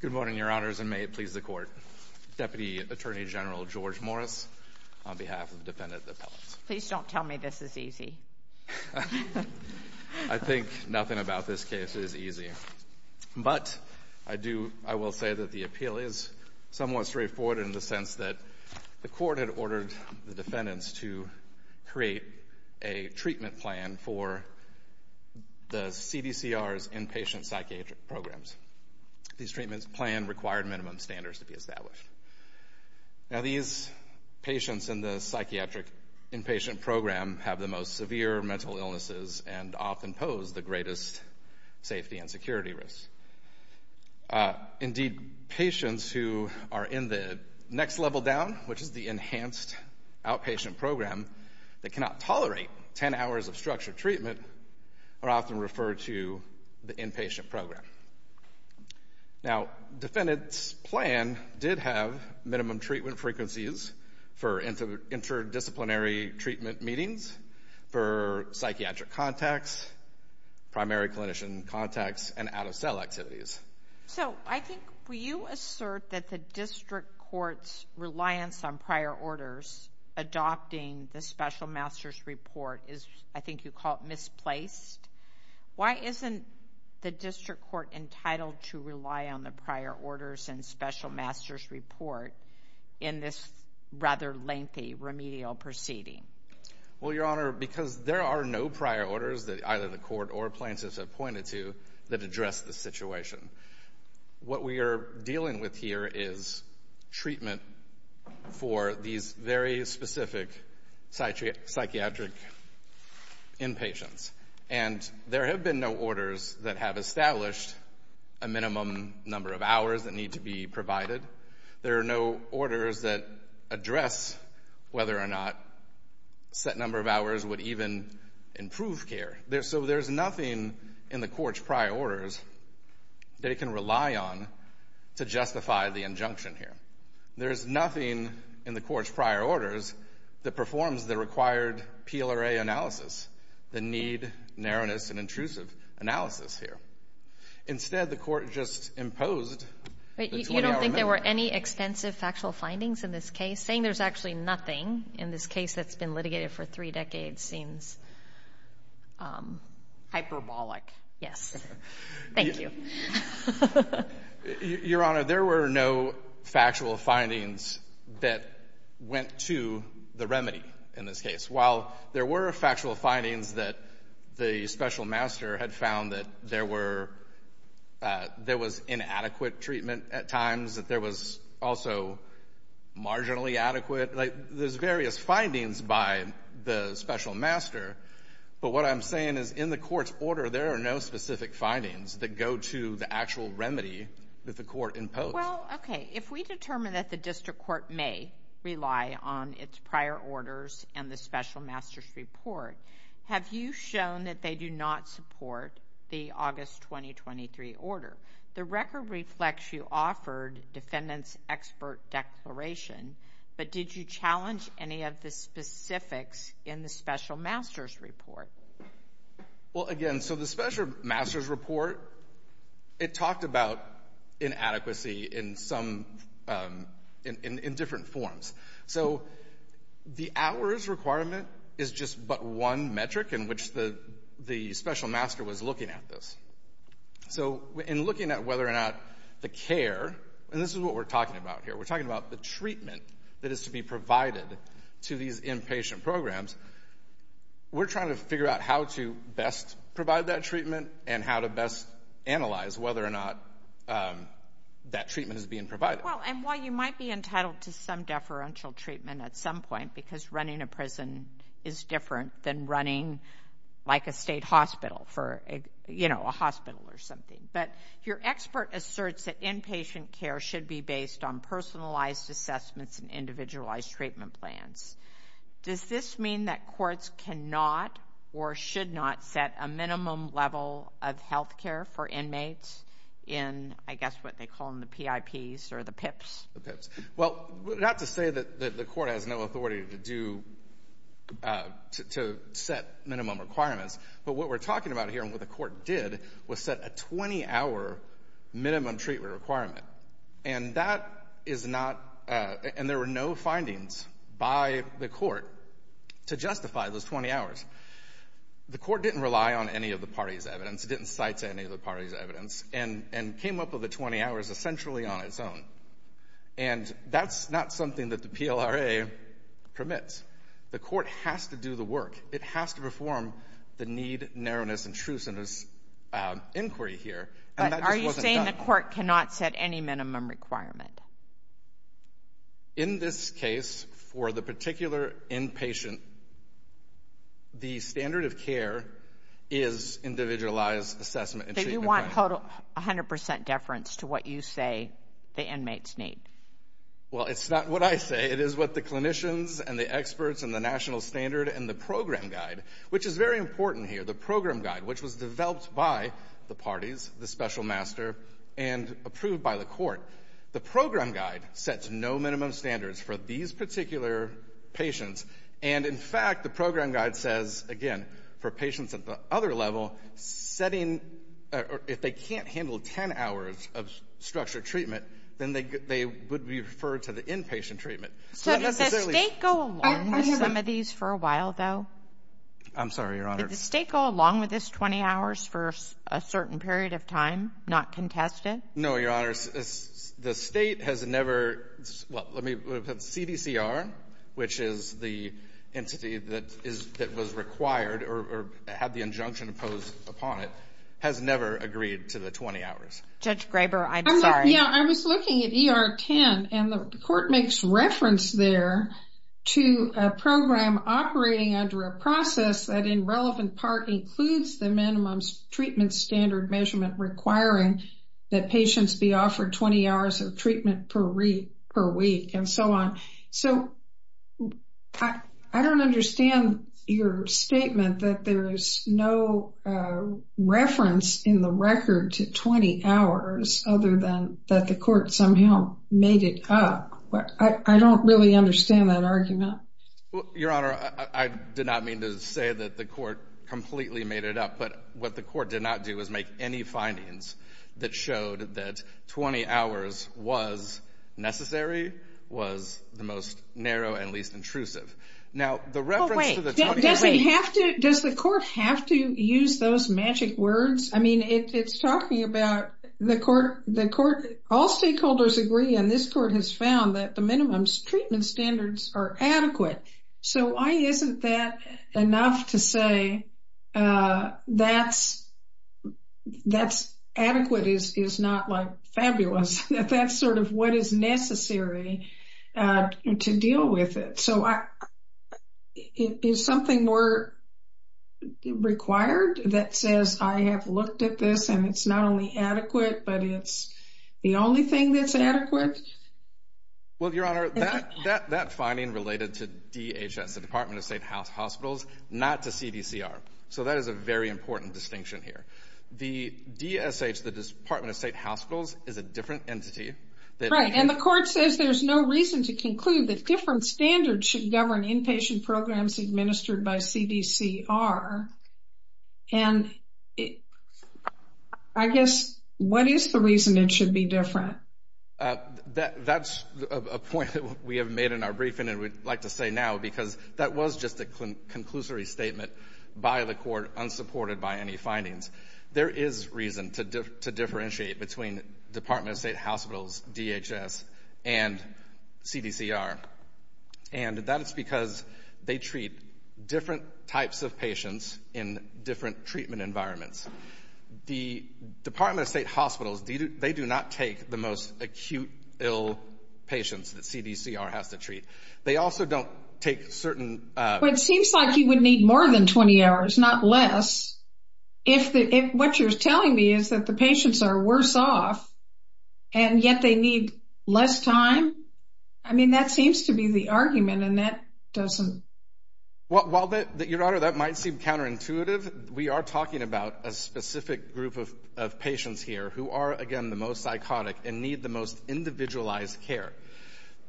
Good morning, Your Honors, and may it please the Court, Deputy Attorney General George Morris, on behalf of defendant appellants. Please don't tell me this is easy. I think nothing about this case is easy, but I will say that the appeal is somewhat straightforward in the sense that the Court had ordered the defendants to create a treatment plan for the CDCR's inpatient psychiatric programs. These treatments plan required minimum standards to be established. Now these patients in the psychiatric inpatient program have the most severe mental illnesses and often pose the greatest safety and security risks. Indeed, patients who are in the next level down, which is the enhanced outpatient program that cannot tolerate 10 hours of structured treatment, are often referred to the inpatient program. Now defendants' plan did have minimum treatment frequencies for interdisciplinary treatment meetings for psychiatric contacts, primary clinician contacts, and out-of-cell activities. So I think, will you assert that the district court's reliance on prior orders adopting the special master's report is, I think you call it, misplaced? Why isn't the district court entitled to rely on the prior orders and special master's report in this rather lengthy remedial proceeding? Well, Your Honor, because there are no prior orders that either the court or plaintiffs have pointed to that address the situation. What we are dealing with here is treatment for these very specific psychiatric inpatients. And there have been no orders that have established a minimum number of hours that need to be There are no orders that address whether or not a set number of hours would even improve care. So there's nothing in the court's prior orders that it can rely on to justify the injunction here. There's nothing in the court's prior orders that performs the required PLRA analysis, the need, narrowness, and intrusive analysis here. Instead, the court just imposed the 20-hour limit. You don't think there were any extensive factual findings in this case? Saying there's actually nothing in this case that's been litigated for three decades seems hyperbolic. Yes. Thank you. Your Honor, there were no factual findings that went to the remedy in this case. While there were factual findings that the special master had found that there were, there was inadequate treatment at times, that there was also marginally adequate, like, there's various findings by the special master. But what I'm saying is in the court's order, there are no specific findings that go to the actual remedy that the court imposed. Well, okay. If we determine that the district court may rely on its prior orders and the special master's report, have you shown that they do not support the August 2023 order? The record reflects you offered defendant's expert declaration, but did you challenge any of the specifics in the special master's report? Well, again, so the special master's report, it talked about inadequacy in different forms. So the hours requirement is just but one metric in which the special master was looking at this. So in looking at whether or not the care, and this is what we're talking about here, we're talking about the treatment that is to be provided to these inpatient programs, we're trying to figure out how to best provide that treatment and how to best analyze whether or not that treatment is being provided. Well, and while you might be entitled to some deferential treatment at some point, because running a prison is different than running like a state hospital for, you know, a hospital or something, but your expert asserts that inpatient care should be based on personalized assessments and individualized treatment plans. Does this mean that courts cannot or should not set a minimum level of health care for inmates in, I guess what they call them, the PIPs or the PIPs? The PIPs. Well, not to say that the court has no authority to do, to set minimum requirements, but what we're talking about here and what the court did was set a 20-hour minimum treatment requirement. And that is not, and there were no findings by the court to justify those 20 hours. The court didn't rely on any of the party's evidence. It didn't cite any of the party's evidence and came up with the 20 hours essentially on its own. And that's not something that the PLRA permits. The court has to do the work. It has to perform the need, narrowness, and truceness inquiry here, and that just wasn't done. But are you saying the court cannot set any minimum requirement? In this case, for the particular inpatient, the standard of care is individualized assessment and treatment plan. So you want total, 100% deference to what you say the inmates need? Well, it's not what I say. It is what the clinicians and the experts and the national standard and the program guide, which is very important here, the program guide, which was developed by the parties, the special master, and approved by the court. The program guide sets no minimum standards for these particular patients. And, in fact, the program guide says, again, for patients at the other level, setting or if they can't handle 10 hours of structured treatment, then they would be referred to the inpatient treatment. So that necessarily goes along with some of these for a while, though. I'm sorry, Your Honor. Did the State go along with this 20 hours for a certain period of time, not contest it? No, Your Honor. The State has never, well, let me put it, CDCR, which is the entity that was required or had the injunction imposed upon it, has never agreed to the 20 hours. Judge Graber, I'm sorry. Yeah, I was looking at ER-10, and the court makes reference there to a program operating under a process that, in relevant part, includes the minimum treatment standard measurement requiring that patients be offered 20 hours of treatment per week and so on. So I don't understand your statement that there's no reference in the record to 20 hours other than that the court somehow made it up. I don't really understand that argument. Well, Your Honor, I did not mean to say that the court completely made it up. But what the court did not do was make any findings that showed that 20 hours was necessary, was the most narrow and least intrusive. Now, the reference to the 20 hours... Does the court have to use those magic words? I mean, it's talking about the court... All stakeholders agree, and this court has found that the minimum treatment standards are adequate. So why isn't that enough to say that's adequate is not fabulous? That's sort of what is necessary to deal with it. So is something more required that says, I have looked at this, and it's not only adequate, but it's the only thing that's adequate? Well, Your Honor, that finding related to DHS, the Department of State Hospitals, not to CDCR. So that is a very important distinction here. The DSH, the Department of State Hospitals, is a different entity. Right, and the court says there's no reason to conclude that different standards should govern inpatient programs administered by CDCR. And I guess, what is the reason it should be different? That's a point that we have made in our briefing, and we'd like to say now, because that was just a conclusory statement by the court, unsupported by any findings. There is reason to differentiate between Department of State Hospitals, DHS, and CDCR. And that is because they treat different types of patients in different treatment environments. The Department of State Hospitals, they do not take the most acute, ill patients that CDCR has to treat. They also don't take certain... But it seems like you would need more than 20 hours, not less. What you're telling me is that the patients are worse off, and yet they need less time? I mean, that seems to be the argument, and that doesn't... Well, while, Your Honor, that might seem counterintuitive, we are talking about a specific group of patients here who are, again, the most psychotic and need the most individualized care.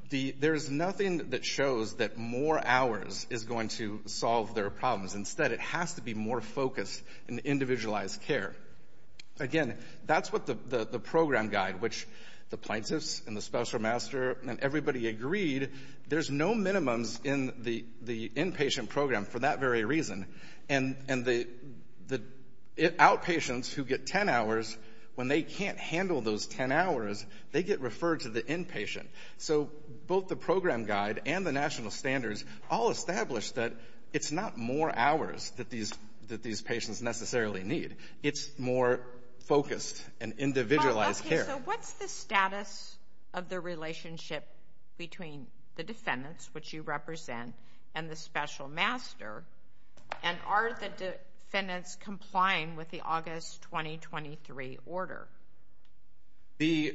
There's nothing that shows that more hours is going to solve their problems. Instead, it has to be more focused in individualized care. Again, that's what the program guide, which the plaintiffs and the special master and everybody agreed, there's no minimums in the inpatient program for that very reason. And the outpatients who get 10 hours, when they can't handle those 10 hours, they get referred to the inpatient. So both the program guide and the national standards all establish that it's not more hours that these patients necessarily need. It's more focused and individualized care. So what's the status of the relationship between the defendants, which you represent, and the special master? And are the defendants complying with the August 2023 order? The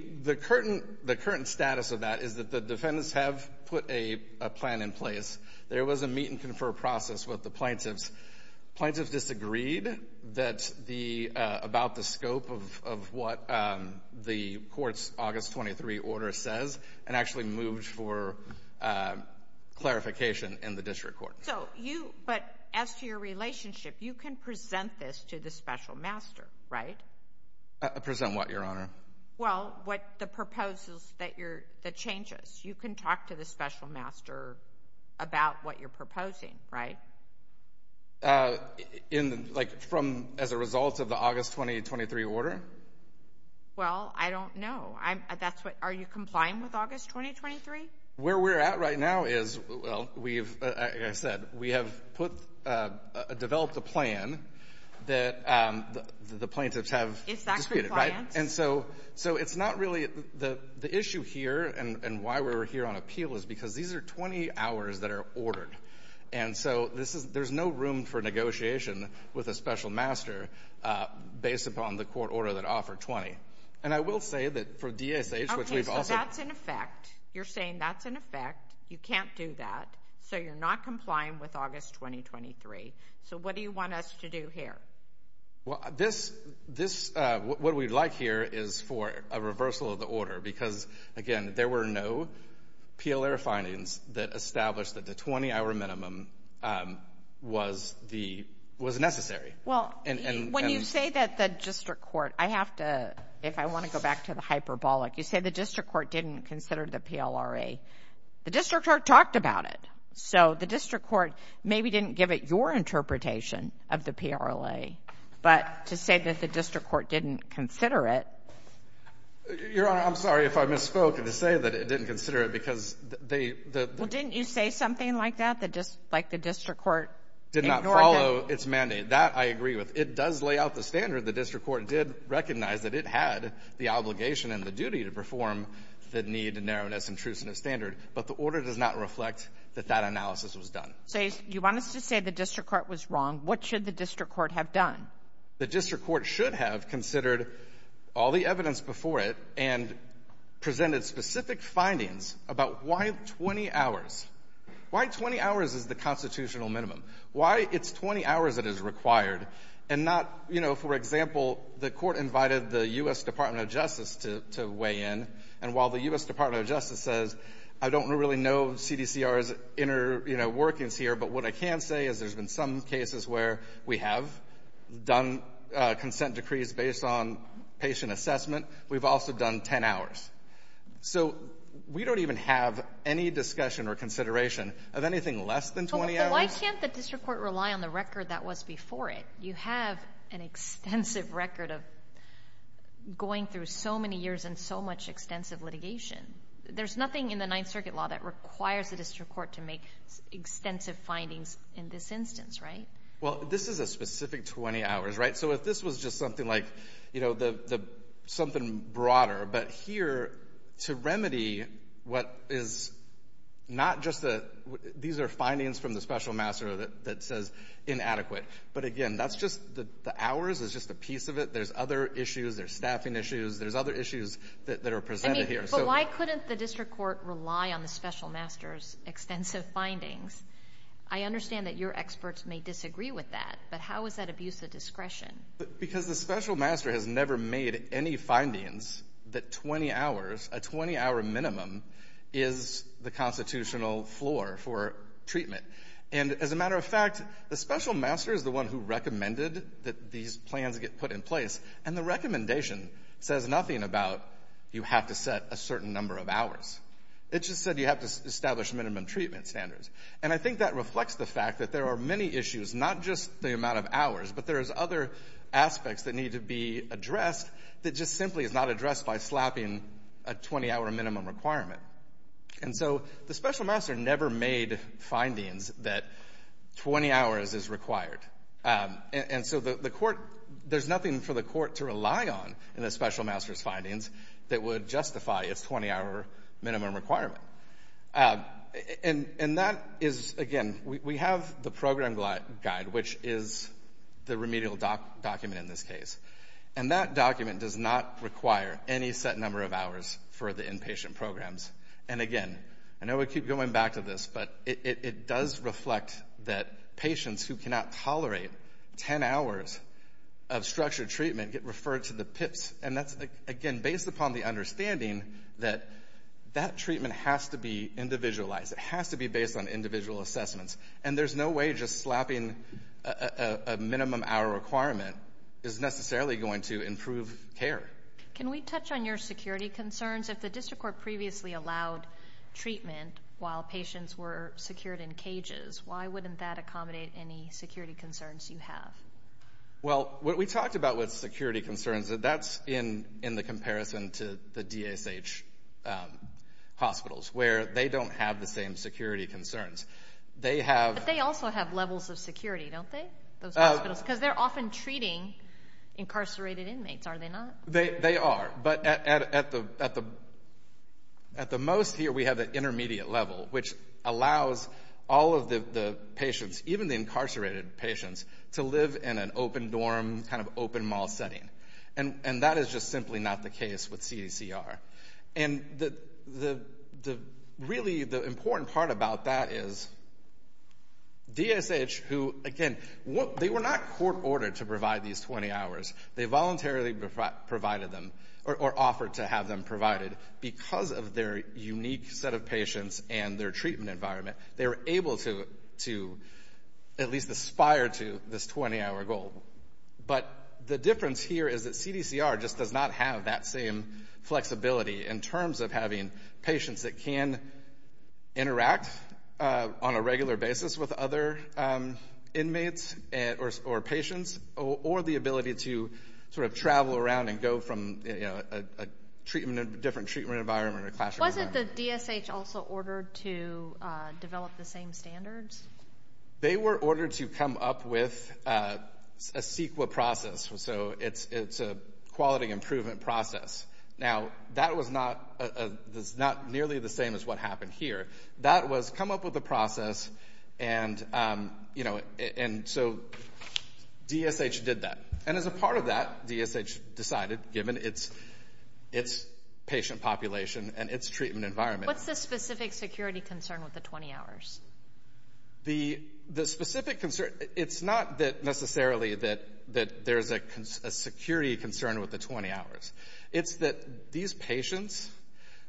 current status of that is that the defendants have put a plan in place. There was a meet and confer process with the plaintiffs. Plaintiffs disagreed about the scope of what the court's August 23 order says and actually moved for clarification in the district court. But as to your relationship, you can present this to the special master, right? Present what, Your Honor? Well, what the proposals that changes. You can talk to the special master about what you're proposing, right? In the, like, from, as a result of the August 2023 order? Well, I don't know. I'm, that's what, are you complying with August 2023? Where we're at right now is, well, we've, like I said, we have put, developed a plan that the plaintiffs have. Is that compliance? And so it's not really, the issue here and why we're here on appeal is because these are 20 hours that are ordered. And so this is, there's no room for negotiation with a special master based upon the court order that offered 20. And I will say that for DSH, which we've also. Okay, so that's in effect. You're saying that's in effect. You can't do that. So you're not complying with August 2023. So what do you want us to do here? Well, this, this, what we'd like here is for a reversal of the order, because again, there were no PLRA findings that established that the 20 hour minimum was the, was necessary. Well, when you say that the district court, I have to, if I want to go back to the hyperbolic, you say the district court didn't consider the PLRA. The district court talked about it. So the district court maybe didn't give it your interpretation of the PLRA, but to say that the district court didn't consider it. Your Honor, I'm sorry if I misspoke and to say that it didn't consider it because they, the. Well, didn't you say something like that? That just like the district court did not follow its mandate. That I agree with. It does lay out the standard. The district court did recognize that it had the obligation and the duty to perform the need and narrowness and truce in a standard. But the order does not reflect that that analysis was done. So you want us to say the district court was wrong. What should the district court have done? The district court should have considered all the evidence before it and presented specific findings about why 20 hours, why 20 hours is the constitutional minimum. Why it's 20 hours that is required and not, you know, for example, the court invited the U.S. Department of Justice to weigh in. And while the U.S. Department of Justice says, I don't really know CDCR's inner, you know, workings here. But what I can say is there's been some cases where we have done consent decrees based on patient assessment. We've also done 10 hours. So we don't even have any discussion or consideration of anything less than 20 hours. But why can't the district court rely on the record that was before it? You have an extensive record of going through so many years and so much extensive litigation. There's nothing in the Ninth Circuit law that requires the district court to make extensive findings in this instance, right? Well, this is a specific 20 hours, right? So if this was just something like, you know, the something broader, but here to remedy what is not just the, these are findings from the special master that says inadequate. But again, that's just the hours is just a piece of it. There's other issues. There's staffing issues. There's other issues that are presented here. So why couldn't the district court rely on the special master's extensive findings? I understand that your experts may disagree with that, but how is that abuse of discretion? Because the special master has never made any findings that 20 hours, a 20 hour minimum is the constitutional floor for treatment. And as a matter of fact, the special master is the one who recommended that these plans get put in place. And the recommendation says nothing about you have to set a certain number of hours. It just said you have to establish minimum treatment standards. And I think that reflects the fact that there are many issues, not just the amount of hours, but there's other aspects that need to be addressed that just simply is not addressed by slapping a 20 hour minimum requirement. And so the special master never made findings that 20 hours is required. And so the court, there's nothing for the court to rely on in the special master's findings that would justify its 20 hour minimum requirement. And that is, again, we have the program guide, which is the remedial document in this case. And that document does not require any set number of hours for the inpatient programs. And again, I know we keep going back to this, but it does reflect that patients who cannot tolerate 10 hours of structured treatment get referred to the PIPSC. And that's, again, based upon the understanding that that treatment has to be individualized. It has to be based on individual assessments. And there's no way just slapping a minimum hour requirement is necessarily going to improve care. Can we touch on your security concerns? If the district court previously allowed treatment while patients were secured in cages, why wouldn't that accommodate any security concerns you have? Well, what we talked about with security concerns, that's in the comparison to the DSH hospitals, where they don't have the same security concerns. But they also have levels of security, don't they? Those hospitals? Because they're often treating incarcerated inmates, are they not? They are. But at the most here, we have the intermediate level, which allows all of the patients, even the incarcerated patients, to live in an open dorm, kind of open mall setting. And that is just simply not the case with CDCR. And really, the important part about that is, DSH, who, again, they were not court-ordered to provide these 20 hours. They voluntarily provided them, or offered to have them provided. Because of their unique set of patients and their treatment environment, they were able to at least aspire to this 20-hour goal. But the difference here is that CDCR just does not have that same flexibility in terms of having patients that can interact on a regular basis with other inmates or patients, or the ability to sort of travel around and go from a different treatment environment to a classroom environment. Wasn't the DSH also ordered to develop the same standards? They were ordered to come up with a CEQA process, so it's a quality improvement process. Now, that was not nearly the same as what happened here. That was come up with a process, and so DSH did that. And as a part of that, DSH decided, given its patient population and its treatment environment. What's the specific security concern with the 20 hours? The specific concern, it's not that necessarily that there's a security concern with the 20 hours. It's that these patients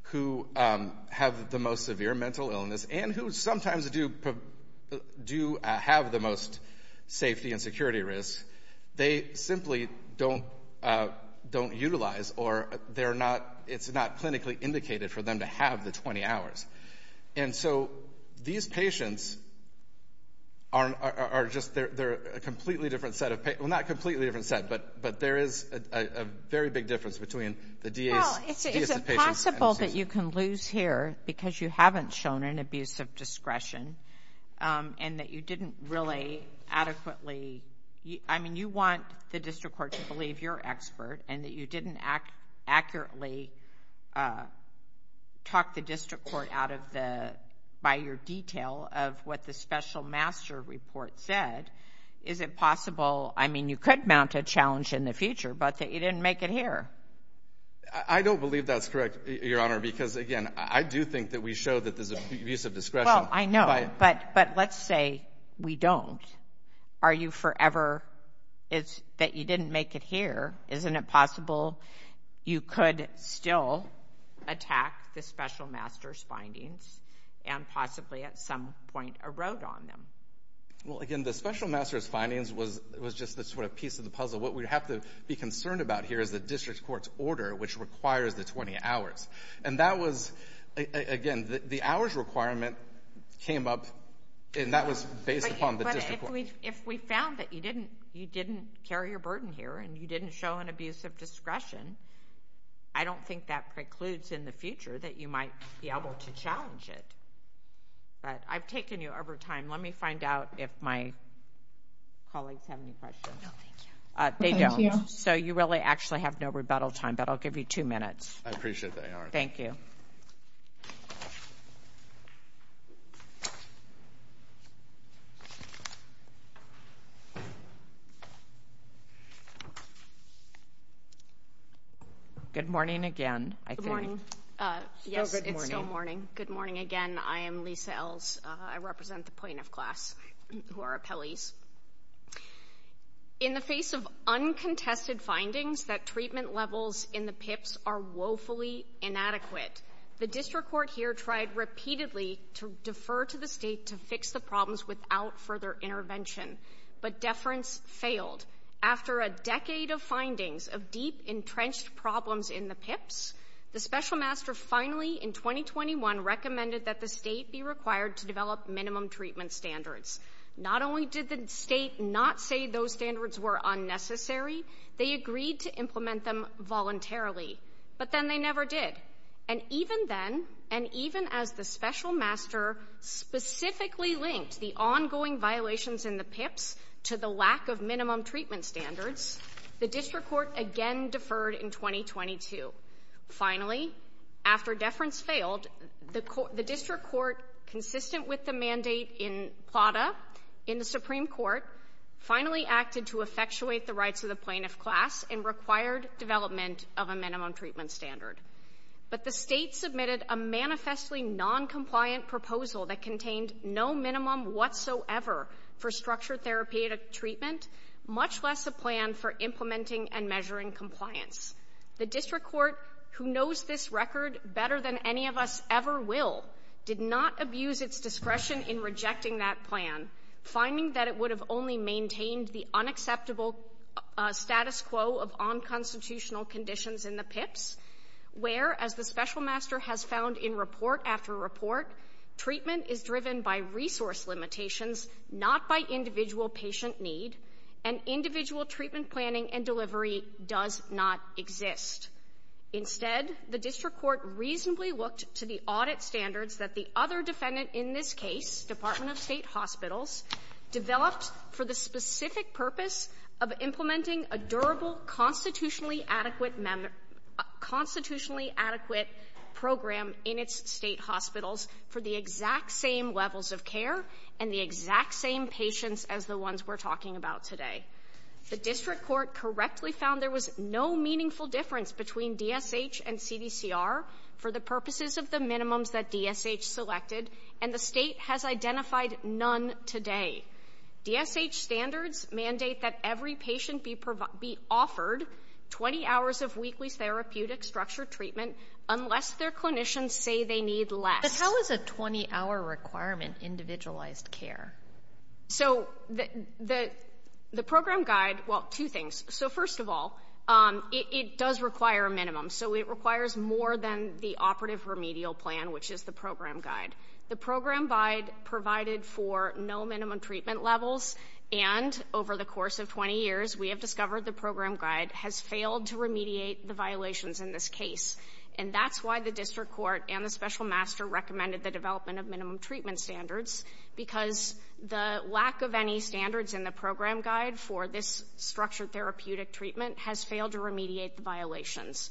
who have the most severe mental illness, and who sometimes do have the most safety and security risks, they simply don't utilize, or it's not clinically indicated for them to have the 20 hours. And so, these patients are just, they're a completely different set of, well, not a completely different set, but there is a very big difference between the DSH patients and the CEQA. Well, is it possible that you can lose here because you haven't shown an abuse of discretion, and that you didn't really adequately, I mean, you want the district court to believe you're an expert, and that you didn't accurately talk the district court out of the, by your detail of what the special master report said. Is it possible, I mean, you could mount a challenge in the future, but that you didn't make it here? I don't believe that's correct, Your Honor, because again, I do think that we show that there's abuse of discretion. Well, I know, but let's say we don't. Are you forever, it's that you didn't make it here, isn't it possible you could still attack the special master's findings, and possibly at some point erode on them? Well, again, the special master's findings was just this sort of piece of the puzzle. What we have to be concerned about here is the district court's order, which requires the 20 hours. And that was, again, the hours requirement came up, and that was based upon the district If we found that you didn't carry your burden here, and you didn't show an abuse of discretion, I don't think that precludes in the future that you might be able to challenge it. But I've taken you over time. Let me find out if my colleagues have any questions. No, thank you. They don't. Thank you. So you really actually have no rebuttal time, but I'll give you two minutes. I appreciate that, Your Honor. Thank you. Good morning again, I think. Still good morning. Yes, it's still morning. Good morning again. I am Lisa Ells. I represent the plaintiff class, who are appellees. In the face of uncontested findings that treatment levels in the PIPs are woefully inadequate, the district court here tried repeatedly to defer to the state to fix the problems without further intervention. But deference failed. After a decade of findings of deep, entrenched problems in the PIPs, the special master finally in 2021 recommended that the state be required to develop minimum treatment standards. Not only did the state not say those standards were unnecessary, they agreed to implement them voluntarily. But then they never did. And even then, and even as the special master specifically linked the ongoing violations in the PIPs to the lack of minimum treatment standards, the district court again deferred in 2022. Finally, after deference failed, the district court, consistent with the mandate in PLATA in the Supreme Court, finally acted to effectuate the rights of the plaintiff class and required development of a minimum treatment standard. But the state submitted a manifestly noncompliant proposal that contained no minimum whatsoever for structured therapeutic treatment, much less a plan for implementing and measuring compliance. The district court, who knows this record better than any of us ever will, did not abuse its discretion in rejecting that plan, finding that it would have only maintained the unacceptable status quo of unconstitutional conditions in the PIPs, where, as the special master has found in report after report, treatment is driven by resource limitations, not by individual patient need, and individual treatment planning and delivery does not exist. Instead, the district court reasonably looked to the audit standards that the other defendant in this case, Department of State Hospitals, developed for the specific purpose of implementing a durable, constitutionally adequate program in its State hospitals for the exact same levels of care and the exact same patients as the ones we're talking about today. The district court correctly found there was no meaningful difference between DSH and CDCR for the purposes of the minimums that DSH selected and the State has identified none today. DSH standards mandate that every patient be offered 20 hours of weekly therapeutic structured treatment unless their clinicians say they need less. But how is a 20-hour requirement individualized care? So the program guide, well, two things. So first of all, it does require a minimum. So it requires more than the operative remedial plan, which is the program guide. The program guide provided for no minimum treatment levels, and over the course of 20 years, we have discovered the program guide has failed to remediate the violations in this case. And that's why the district court and the special master recommended the development of minimum treatment standards, because the lack of any standards in the program guide for this structured therapeutic treatment has failed to remediate the violations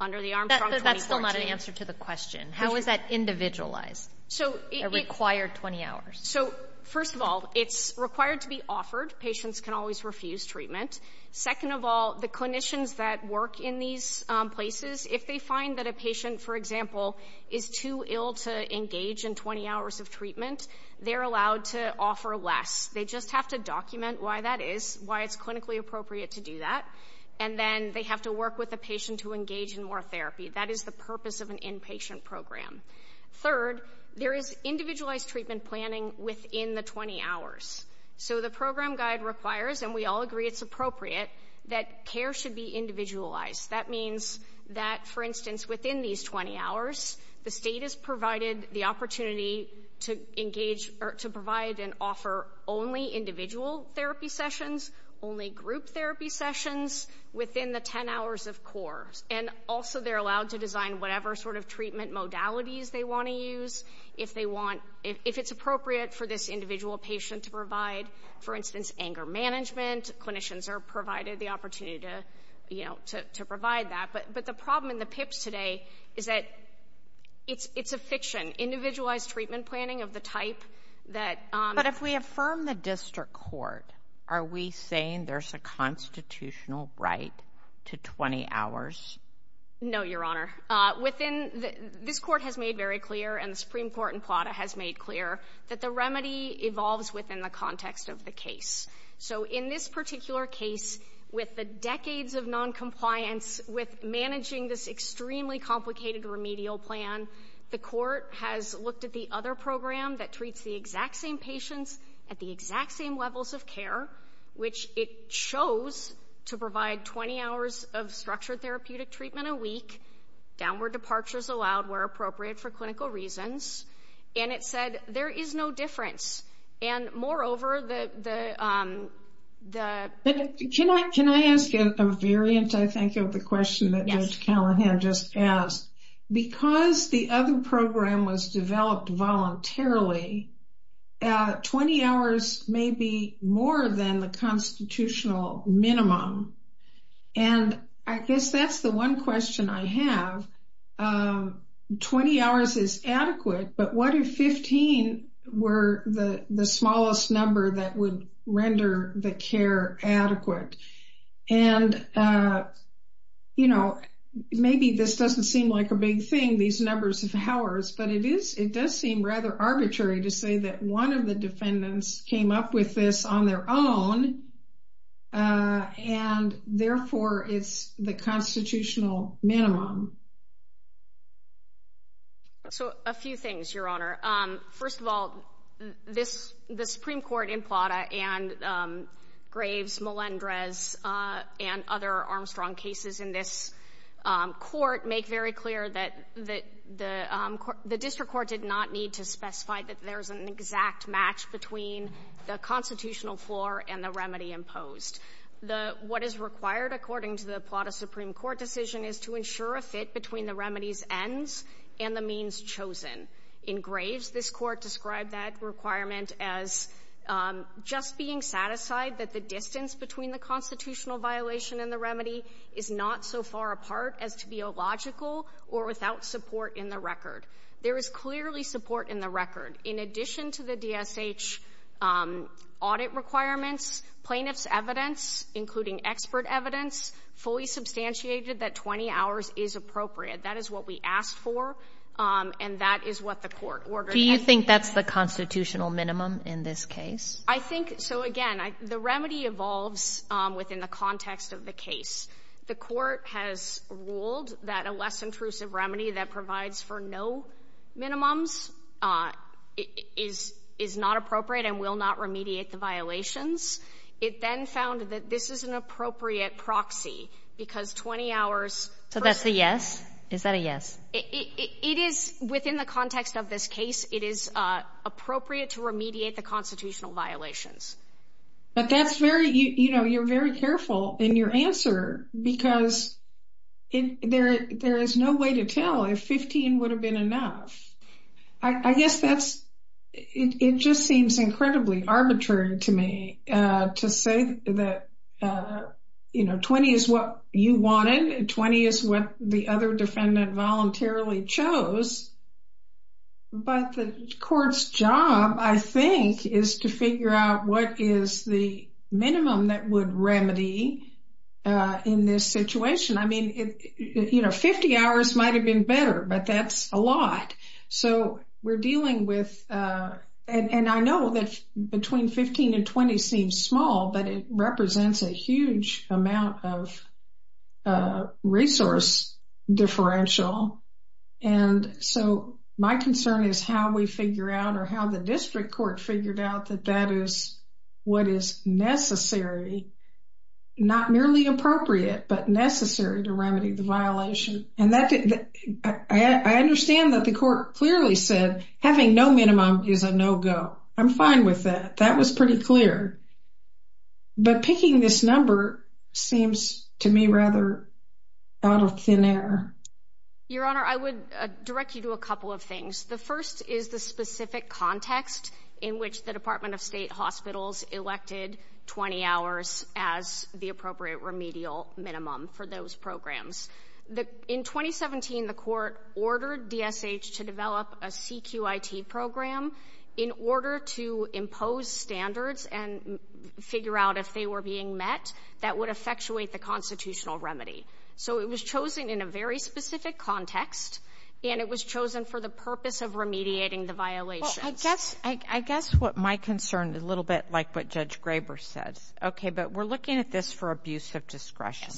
under the Armstrong 2014. But that's still not an answer to the question. How is that individualized? A required 20 hours? So first of all, it's required to be offered. Patients can always refuse treatment. Second of all, the clinicians that work in these places, if they find that a patient, for example, is too ill to engage in 20 hours of treatment, they're allowed to offer less. They just have to document why that is, why it's clinically appropriate to do that. And then they have to work with a patient to engage in more therapy. That is the purpose of an inpatient program. Third, there is individualized treatment planning within the 20 hours. So the program guide requires, and we all agree it's appropriate, that care should be individualized. That means that, for instance, within these 20 hours, the state is provided the opportunity to engage or to provide and offer only individual therapy sessions, only group therapy sessions within the 10 hours, of course. And also, they're allowed to design whatever sort of treatment modalities they want to use if they want, if it's appropriate for this individual patient to provide. For instance, anger management, clinicians are provided the opportunity to provide that. But the problem in the PIPs today is that it's a fiction. Individualized treatment planning of the type that— But if we affirm the district court, are we saying there's a constitutional right to 20 hours? No, Your Honor. Within—this Court has made very clear, and the Supreme Court in Plata has made clear, that the remedy evolves within the context of the case. So in this particular case, with the decades of noncompliance, with managing this extremely complicated remedial plan, the Court has looked at the other program that treats the exact same patients at the exact same levels of care, which it chose to provide 20 hours of structured therapeutic treatment a week, downward departures allowed where appropriate for clinical reasons. And it said there is no difference. And moreover, the— Can I ask a variant, I think, of the question that Judge Callahan just asked? Because the other program was developed voluntarily, 20 hours may be more than the constitutional minimum. And I guess that's the one question I have. 20 hours is adequate, but what if 15 were the smallest number that would render the care adequate? And, you know, maybe this doesn't seem like a big thing, these numbers of hours, but it does seem rather arbitrary to say that one of the defendants came up with this on their own, and therefore it's the constitutional minimum. So a few things, Your Honor. First of all, this — the Supreme Court in Plata and Graves, Melendrez, and other Armstrong cases in this Court make very clear that the — the district court did not need to specify that there's an exact match between the constitutional floor and the remedy imposed. The — what is required, according to the Plata Supreme Court decision, is to ensure a fit between the remedy's ends and the means chosen. In Graves, this Court described that requirement as just being satisfied that the distance between the constitutional violation and the remedy is not so far apart as to be illogical or without support in the record. There is clearly support in the record. In addition to the DSH audit requirements, plaintiff's evidence, including expert evidence, fully substantiated that 20 hours is appropriate. That is what we asked for, and that is what the Court ordered. Do you think that's the constitutional minimum in this case? I think — so, again, the remedy evolves within the context of the case. The Court has ruled that a less intrusive remedy that provides for no minimums is — is not appropriate and will not remediate the violations. It then found that this is an appropriate proxy because 20 hours — So that's a yes? Is that a yes? It is — within the context of this case, it is appropriate to remediate the constitutional violations. But that's very — you know, you're very careful in your answer because there is no way to tell if 15 would have been enough. I guess that's — it just seems incredibly arbitrary to me to say that, you know, 20 is what you wanted, 20 is what the other defendant voluntarily chose. But the Court's job, I think, is to figure out what is the minimum that would remedy in this situation. I mean, you know, 50 hours might have been better, but that's a lot. So we're dealing with — and I know that between 15 and 20 seems small, but it represents a huge amount of resource differential. And so my concern is how we figure out or how the district court figured out that that is what is necessary — not merely appropriate, but necessary — to remedy the violation. And that — I understand that the Court clearly said having no minimum is a no-go. I'm fine with that. That was pretty clear. But picking this number seems, to me, rather out of thin air. Your Honor, I would direct you to a couple of things. The first is the specific context in which the Department of State hospitals elected 20 hours as the appropriate remedial minimum for those programs. In 2017, the Court ordered DSH to develop a CQIT program in order to impose standards and figure out if they were being met that would effectuate the constitutional remedy. So it was chosen in a very specific context, and it was chosen for the purpose of remediating the violations. Well, I guess what my concern — a little bit like what Judge Graber says. Okay, but we're looking at this for abuse of discretion.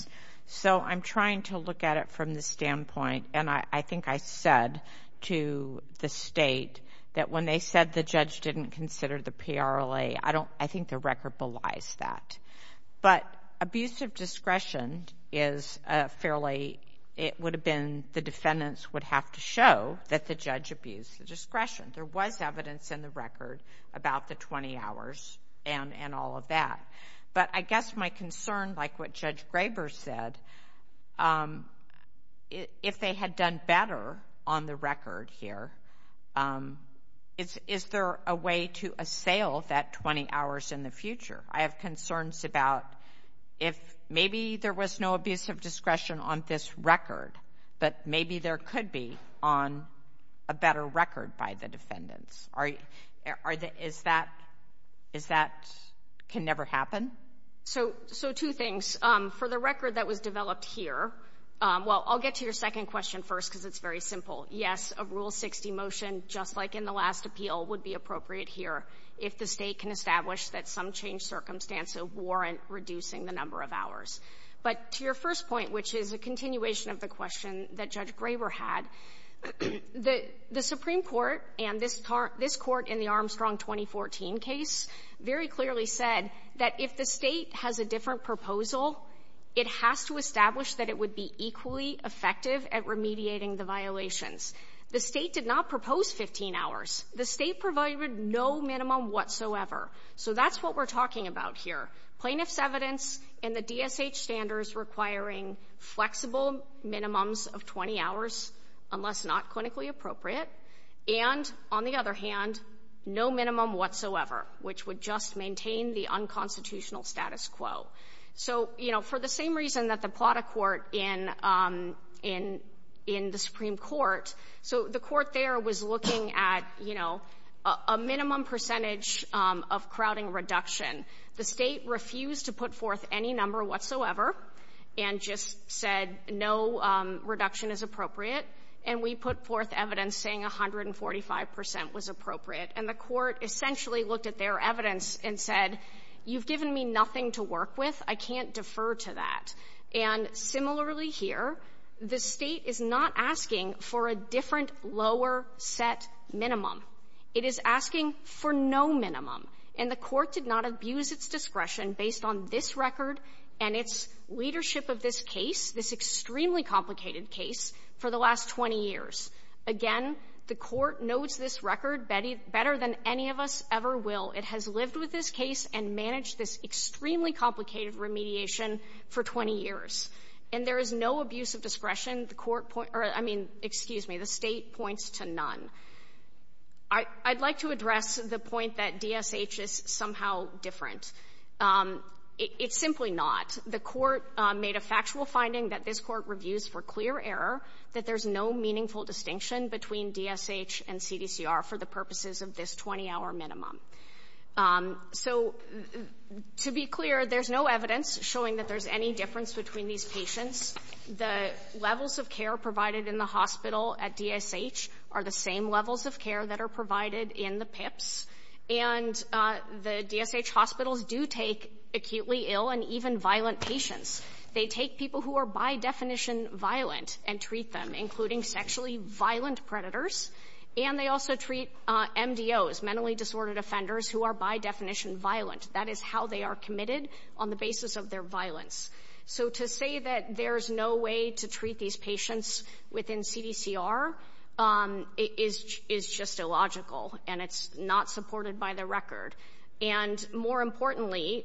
So I'm trying to look at it from the standpoint — and I think I said to the State that when they said the judge didn't consider the PRLA, I don't — I think the record belies that. But abuse of discretion is fairly — it would have been — the defendants would have to show that the judge abused the discretion. There was evidence in the record about the 20 hours and all of that. But I guess my concern, like what Judge Graber said, if they had done better on the record here, is there a way to assail that 20 hours in the future? I have concerns about if maybe there was no abuse of discretion on this record, but maybe there could be on a better record by the defendants. Is that — is that — can never happen? So two things. For the record that was developed here — well, I'll get to your second question first because it's very simple. Yes, a Rule 60 motion, just like in the last appeal, would be appropriate here if the State can establish that some changed circumstances warrant reducing the number of hours. But to your first point, which is a continuation of the question that Judge Graber had, the — the Supreme Court and this — this Court in the Armstrong 2014 case very clearly said that if the State has a different proposal, it has to establish that it would be equally effective at remediating the violations. The State did not propose 15 hours. The State provided no minimum whatsoever. So that's what we're talking about here — plaintiff's evidence and the DSH standards requiring flexible minimums of 20 hours, unless not clinically appropriate, and, on the other hand, no minimum whatsoever, which would just maintain the unconstitutional status quo. So you know, for the same reason that the Plata court in — in — in the Supreme Court — so the court there was looking at, you know, a minimum percentage of crowding reduction. The State refused to put forth any number whatsoever and just said no reduction is appropriate, and we put forth evidence saying 145 percent was appropriate. And the court essentially looked at their evidence and said, you've given me nothing to work with. I can't defer to that. And similarly here, the State is not asking for a different, lower-set minimum. It is asking for no minimum. And the court did not abuse its discretion based on this record and its leadership of this case, this extremely complicated case, for the last 20 years. Again, the court notes this record better than any of us ever will. It has lived with this case and managed this extremely complicated remediation for 20 years. And there is no abuse of discretion. The court — or, I mean, excuse me. The State points to none. I'd like to address the point that DSH is somehow different. It's simply not. The court made a factual finding that this Court reviews for clear error that there's no meaningful distinction between DSH and CDCR for the purposes of this 20-hour minimum. So to be clear, there's no evidence showing that there's any difference between these patients. The levels of care provided in the hospital at DSH are the same levels of care that are provided in the PIPSC. And the DSH hospitals do take acutely ill and even violent patients. They take people who are by definition violent and treat them, including sexually violent predators. And they also treat MDOs, mentally disordered offenders, who are by definition violent. That is how they are committed, on the basis of their violence. So to say that there's no way to treat these patients within CDCR is just illogical, and it's not supported by the record. And more importantly,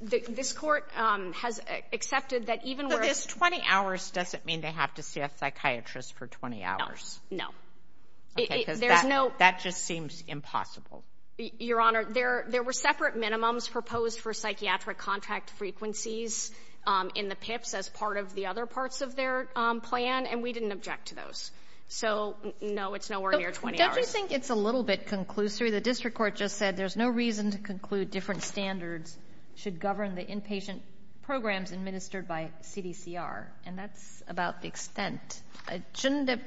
this Court has accepted that even where — But this 20 hours doesn't mean they have to see a psychiatrist for 20 hours. No. No. Okay, because that — There's no — That just seems impossible. Your Honor, there were separate minimums proposed for psychiatric contract frequencies in the PIPSC as part of the other parts of their plan, and we didn't object to those. So, no, it's nowhere near 20 hours. But don't you think it's a little bit conclusory? The district court just said there's no reason to conclude different standards should govern the inpatient programs administered by CDCR, and that's about the extent. Shouldn't it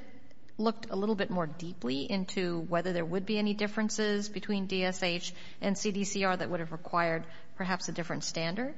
look a little bit more deeply into whether there would be any differences between DSH and CDCR that would have required perhaps a different standard?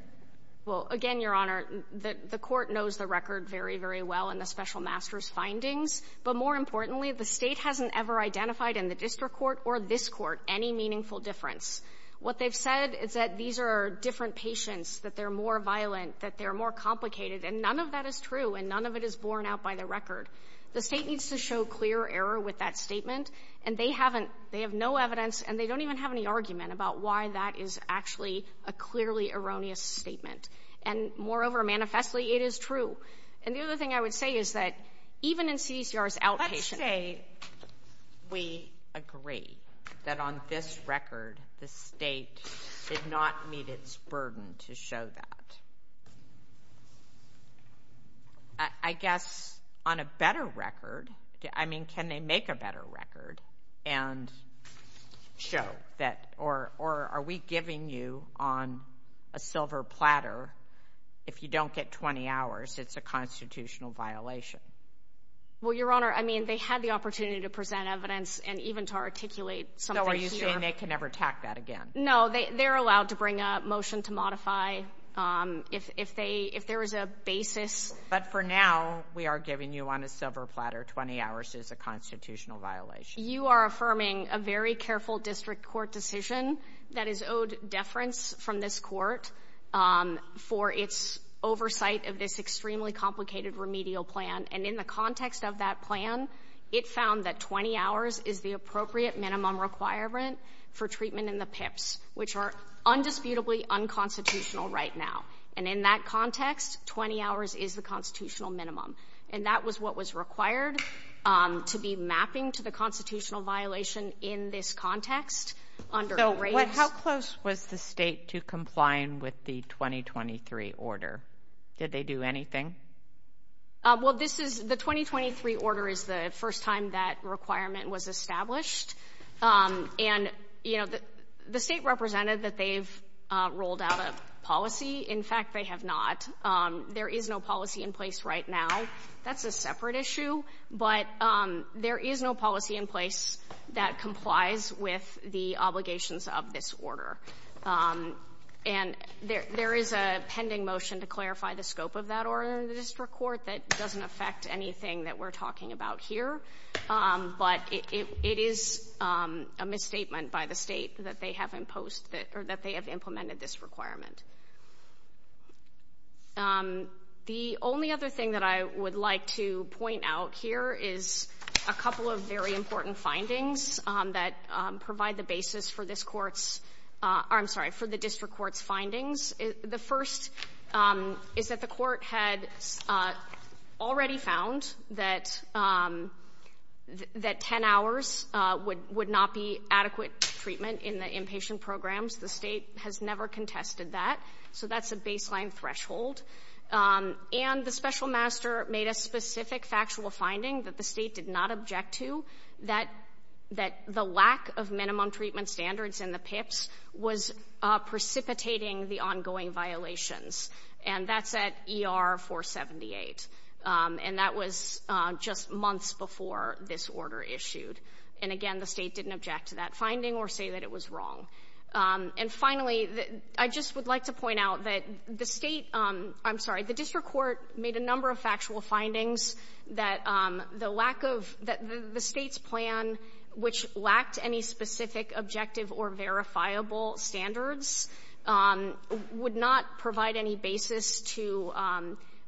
Well, again, Your Honor, the Court knows the record very, very well in the special master's findings. But more importantly, the State hasn't ever identified in the district court or this court any meaningful difference. What they've said is that these are different patients, that they're more violent, that they're more complicated, and none of that is true, and none of it is borne out by the record. The State needs to show clear error with that statement, and they haven't, they have no evidence, and they don't even have any argument about why that is actually a clearly erroneous statement. And moreover, manifestly, it is true. And the other thing I would say is that even in CDCR's outpatient... Let's say we agree that on this record the State did not meet its burden to show that. I guess, on a better record, I mean, can they make a better record and show that, or are we giving you on a silver platter, if you don't get 20 hours, it's a constitutional violation? Well, Your Honor, I mean, they had the opportunity to present evidence and even to articulate something here. So are you saying they can never tack that again? No, they're allowed to bring a motion to modify if there is a basis. But for now, we are giving you on a silver platter 20 hours is a constitutional violation. You are affirming a very careful district court decision that is owed deference from this court for its oversight of this extremely complicated remedial plan. And in the context of that plan, it found that 20 hours is the appropriate minimum requirement for treatment in the PIPs, which are undisputably unconstitutional right now. And in that context, 20 hours is the constitutional minimum. And that was what was required to be mapping to the constitutional violation in this context under... So how close was the State to complying with the 2023 order? Did they do anything? Well, this is... The 2023 order is the first time that requirement was established. And you know, the State represented that they've rolled out a policy. In fact, they have not. There is no policy in place right now. That's a separate issue. But there is no policy in place that complies with the obligations of this order. And there is a pending motion to clarify the scope of that order in the district court. That doesn't affect anything that we're talking about here. But it is a misstatement by the State that they have imposed that or that they have implemented this requirement. The only other thing that I would like to point out here is a couple of very important findings that provide the basis for this Court's or I'm sorry, for the district court's findings. The first is that the Court had already found that 10 hours would not be adequate treatment in the inpatient programs. The State has never contested that. So that's a baseline threshold. And the Special Master made a specific factual finding that the State did not object to, that the lack of minimum treatment standards in the PIPs was precipitating the ongoing violations. And that's at ER 478. And that was just months before this order issued. And again, the State didn't object to that finding or say that it was wrong. And finally, I just would like to point out that the State — I'm sorry, the district court made a number of factual findings that the lack of — that the State's plan, which lacked any specific objective or verifiable standards, would not provide any basis to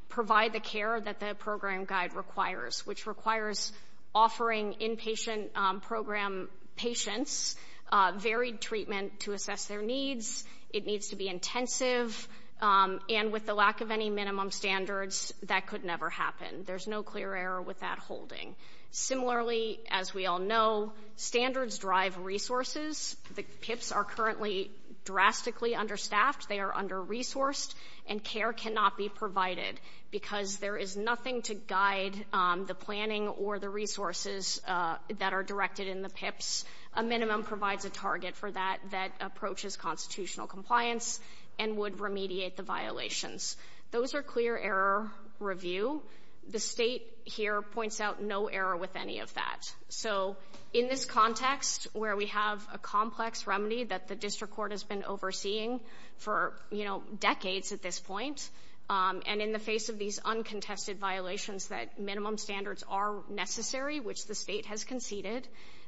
provide the care that the program guide requires, which requires offering inpatient program patients varied treatment to assess their needs. It needs to be intensive. And with the lack of any minimum standards, that could never happen. There's no clear error with that holding. Similarly, as we all know, standards drive resources. The PIPs are currently drastically understaffed. They are under-resourced. And care cannot be provided because there is nothing to guide the planning or the resources that are directed in the PIPs. A minimum provides a target for that that approaches constitutional compliance and would remediate the violations. Those are clear error review. The State here points out no error with any of that. So in this context, where we have a complex remedy that the district court has been overseeing for, you know, decades at this point, and in the face of these uncontested violations that minimum standards are necessary, which the State has conceded,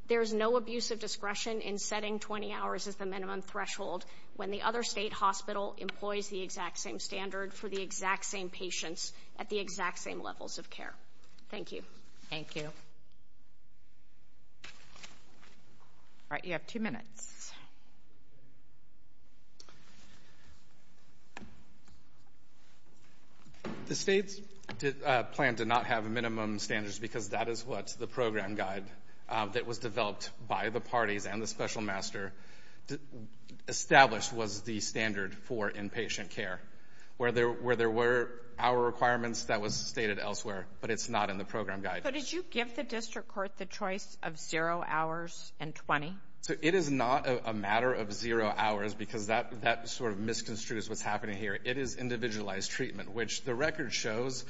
there's no abuse of discretion in setting 20 hours as the minimum threshold when the other State hospital employs the exact same standard for the exact same patients at the exact same levels of Thank you. Thank you. All right. You have two minutes. The State's plan did not have minimum standards because that is what the program guide that was developed by the parties and the special master established was the standard for inpatient care, where there were hour requirements that was stated elsewhere, but it's not in the program guide. So did you give the district court the choice of zero hours and 20? So it is not a matter of zero hours because that sort of misconstrues what's happening here. It is individualized treatment, which the record shows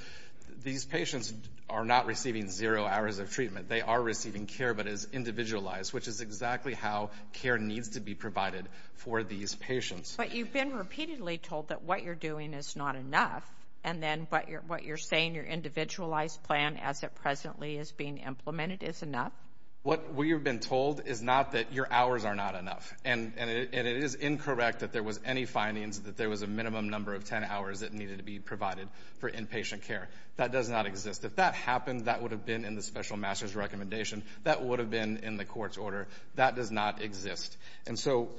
these patients are not receiving zero hours of treatment. They are receiving care, but as individualized, which is exactly how care needs to be provided for these patients. But you've been repeatedly told that what you're doing is not enough. And then what you're what you're saying, your individualized plan as it presently is being implemented is enough. What we've been told is not that your hours are not enough. And it is incorrect that there was any findings that there was a minimum number of 10 hours that needed to be provided for inpatient care. That does not exist. If that happened, that would have been in the special master's recommendation. That would have been in the court's order. That does not exist. And so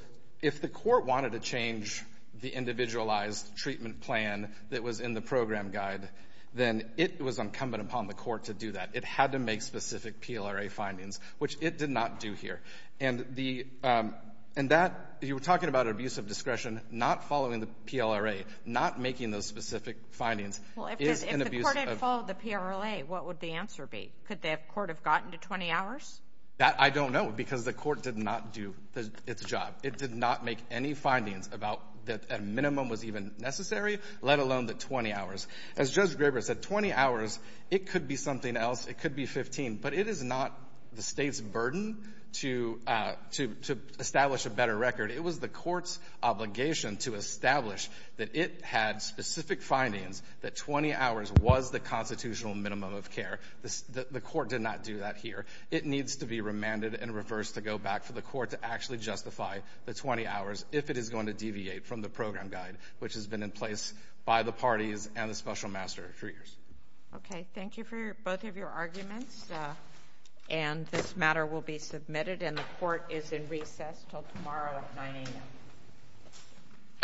if the court wanted to change the individualized treatment plan that was in the program guide, then it was incumbent upon the court to do that. It had to make specific PLRA findings, which it did not do here. And the and that you were talking about abuse of discretion, not following the PLRA, not making those specific findings is an abuse of the PLRA. What would the answer be? Could the court have gotten to 20 hours? That I don't know because the court did not do its job. It did not make any findings about that minimum was even necessary, let alone the 20 hours. As Judge Graber said, 20 hours, it could be something else. It could be 15. But it is not the state's burden to to to establish a better record. It was the court's obligation to establish that it had specific findings that 20 hours was the constitutional minimum of care. The court did not do that here. It needs to be remanded and reversed to go back for the court to actually justify the 20 hours if it is going to deviate from the program guide, which has been in place by the parties and the special master for years. OK, thank you for both of your arguments. And this matter will be submitted and the court is in recess till tomorrow at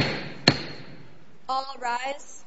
9 a.m. All rise.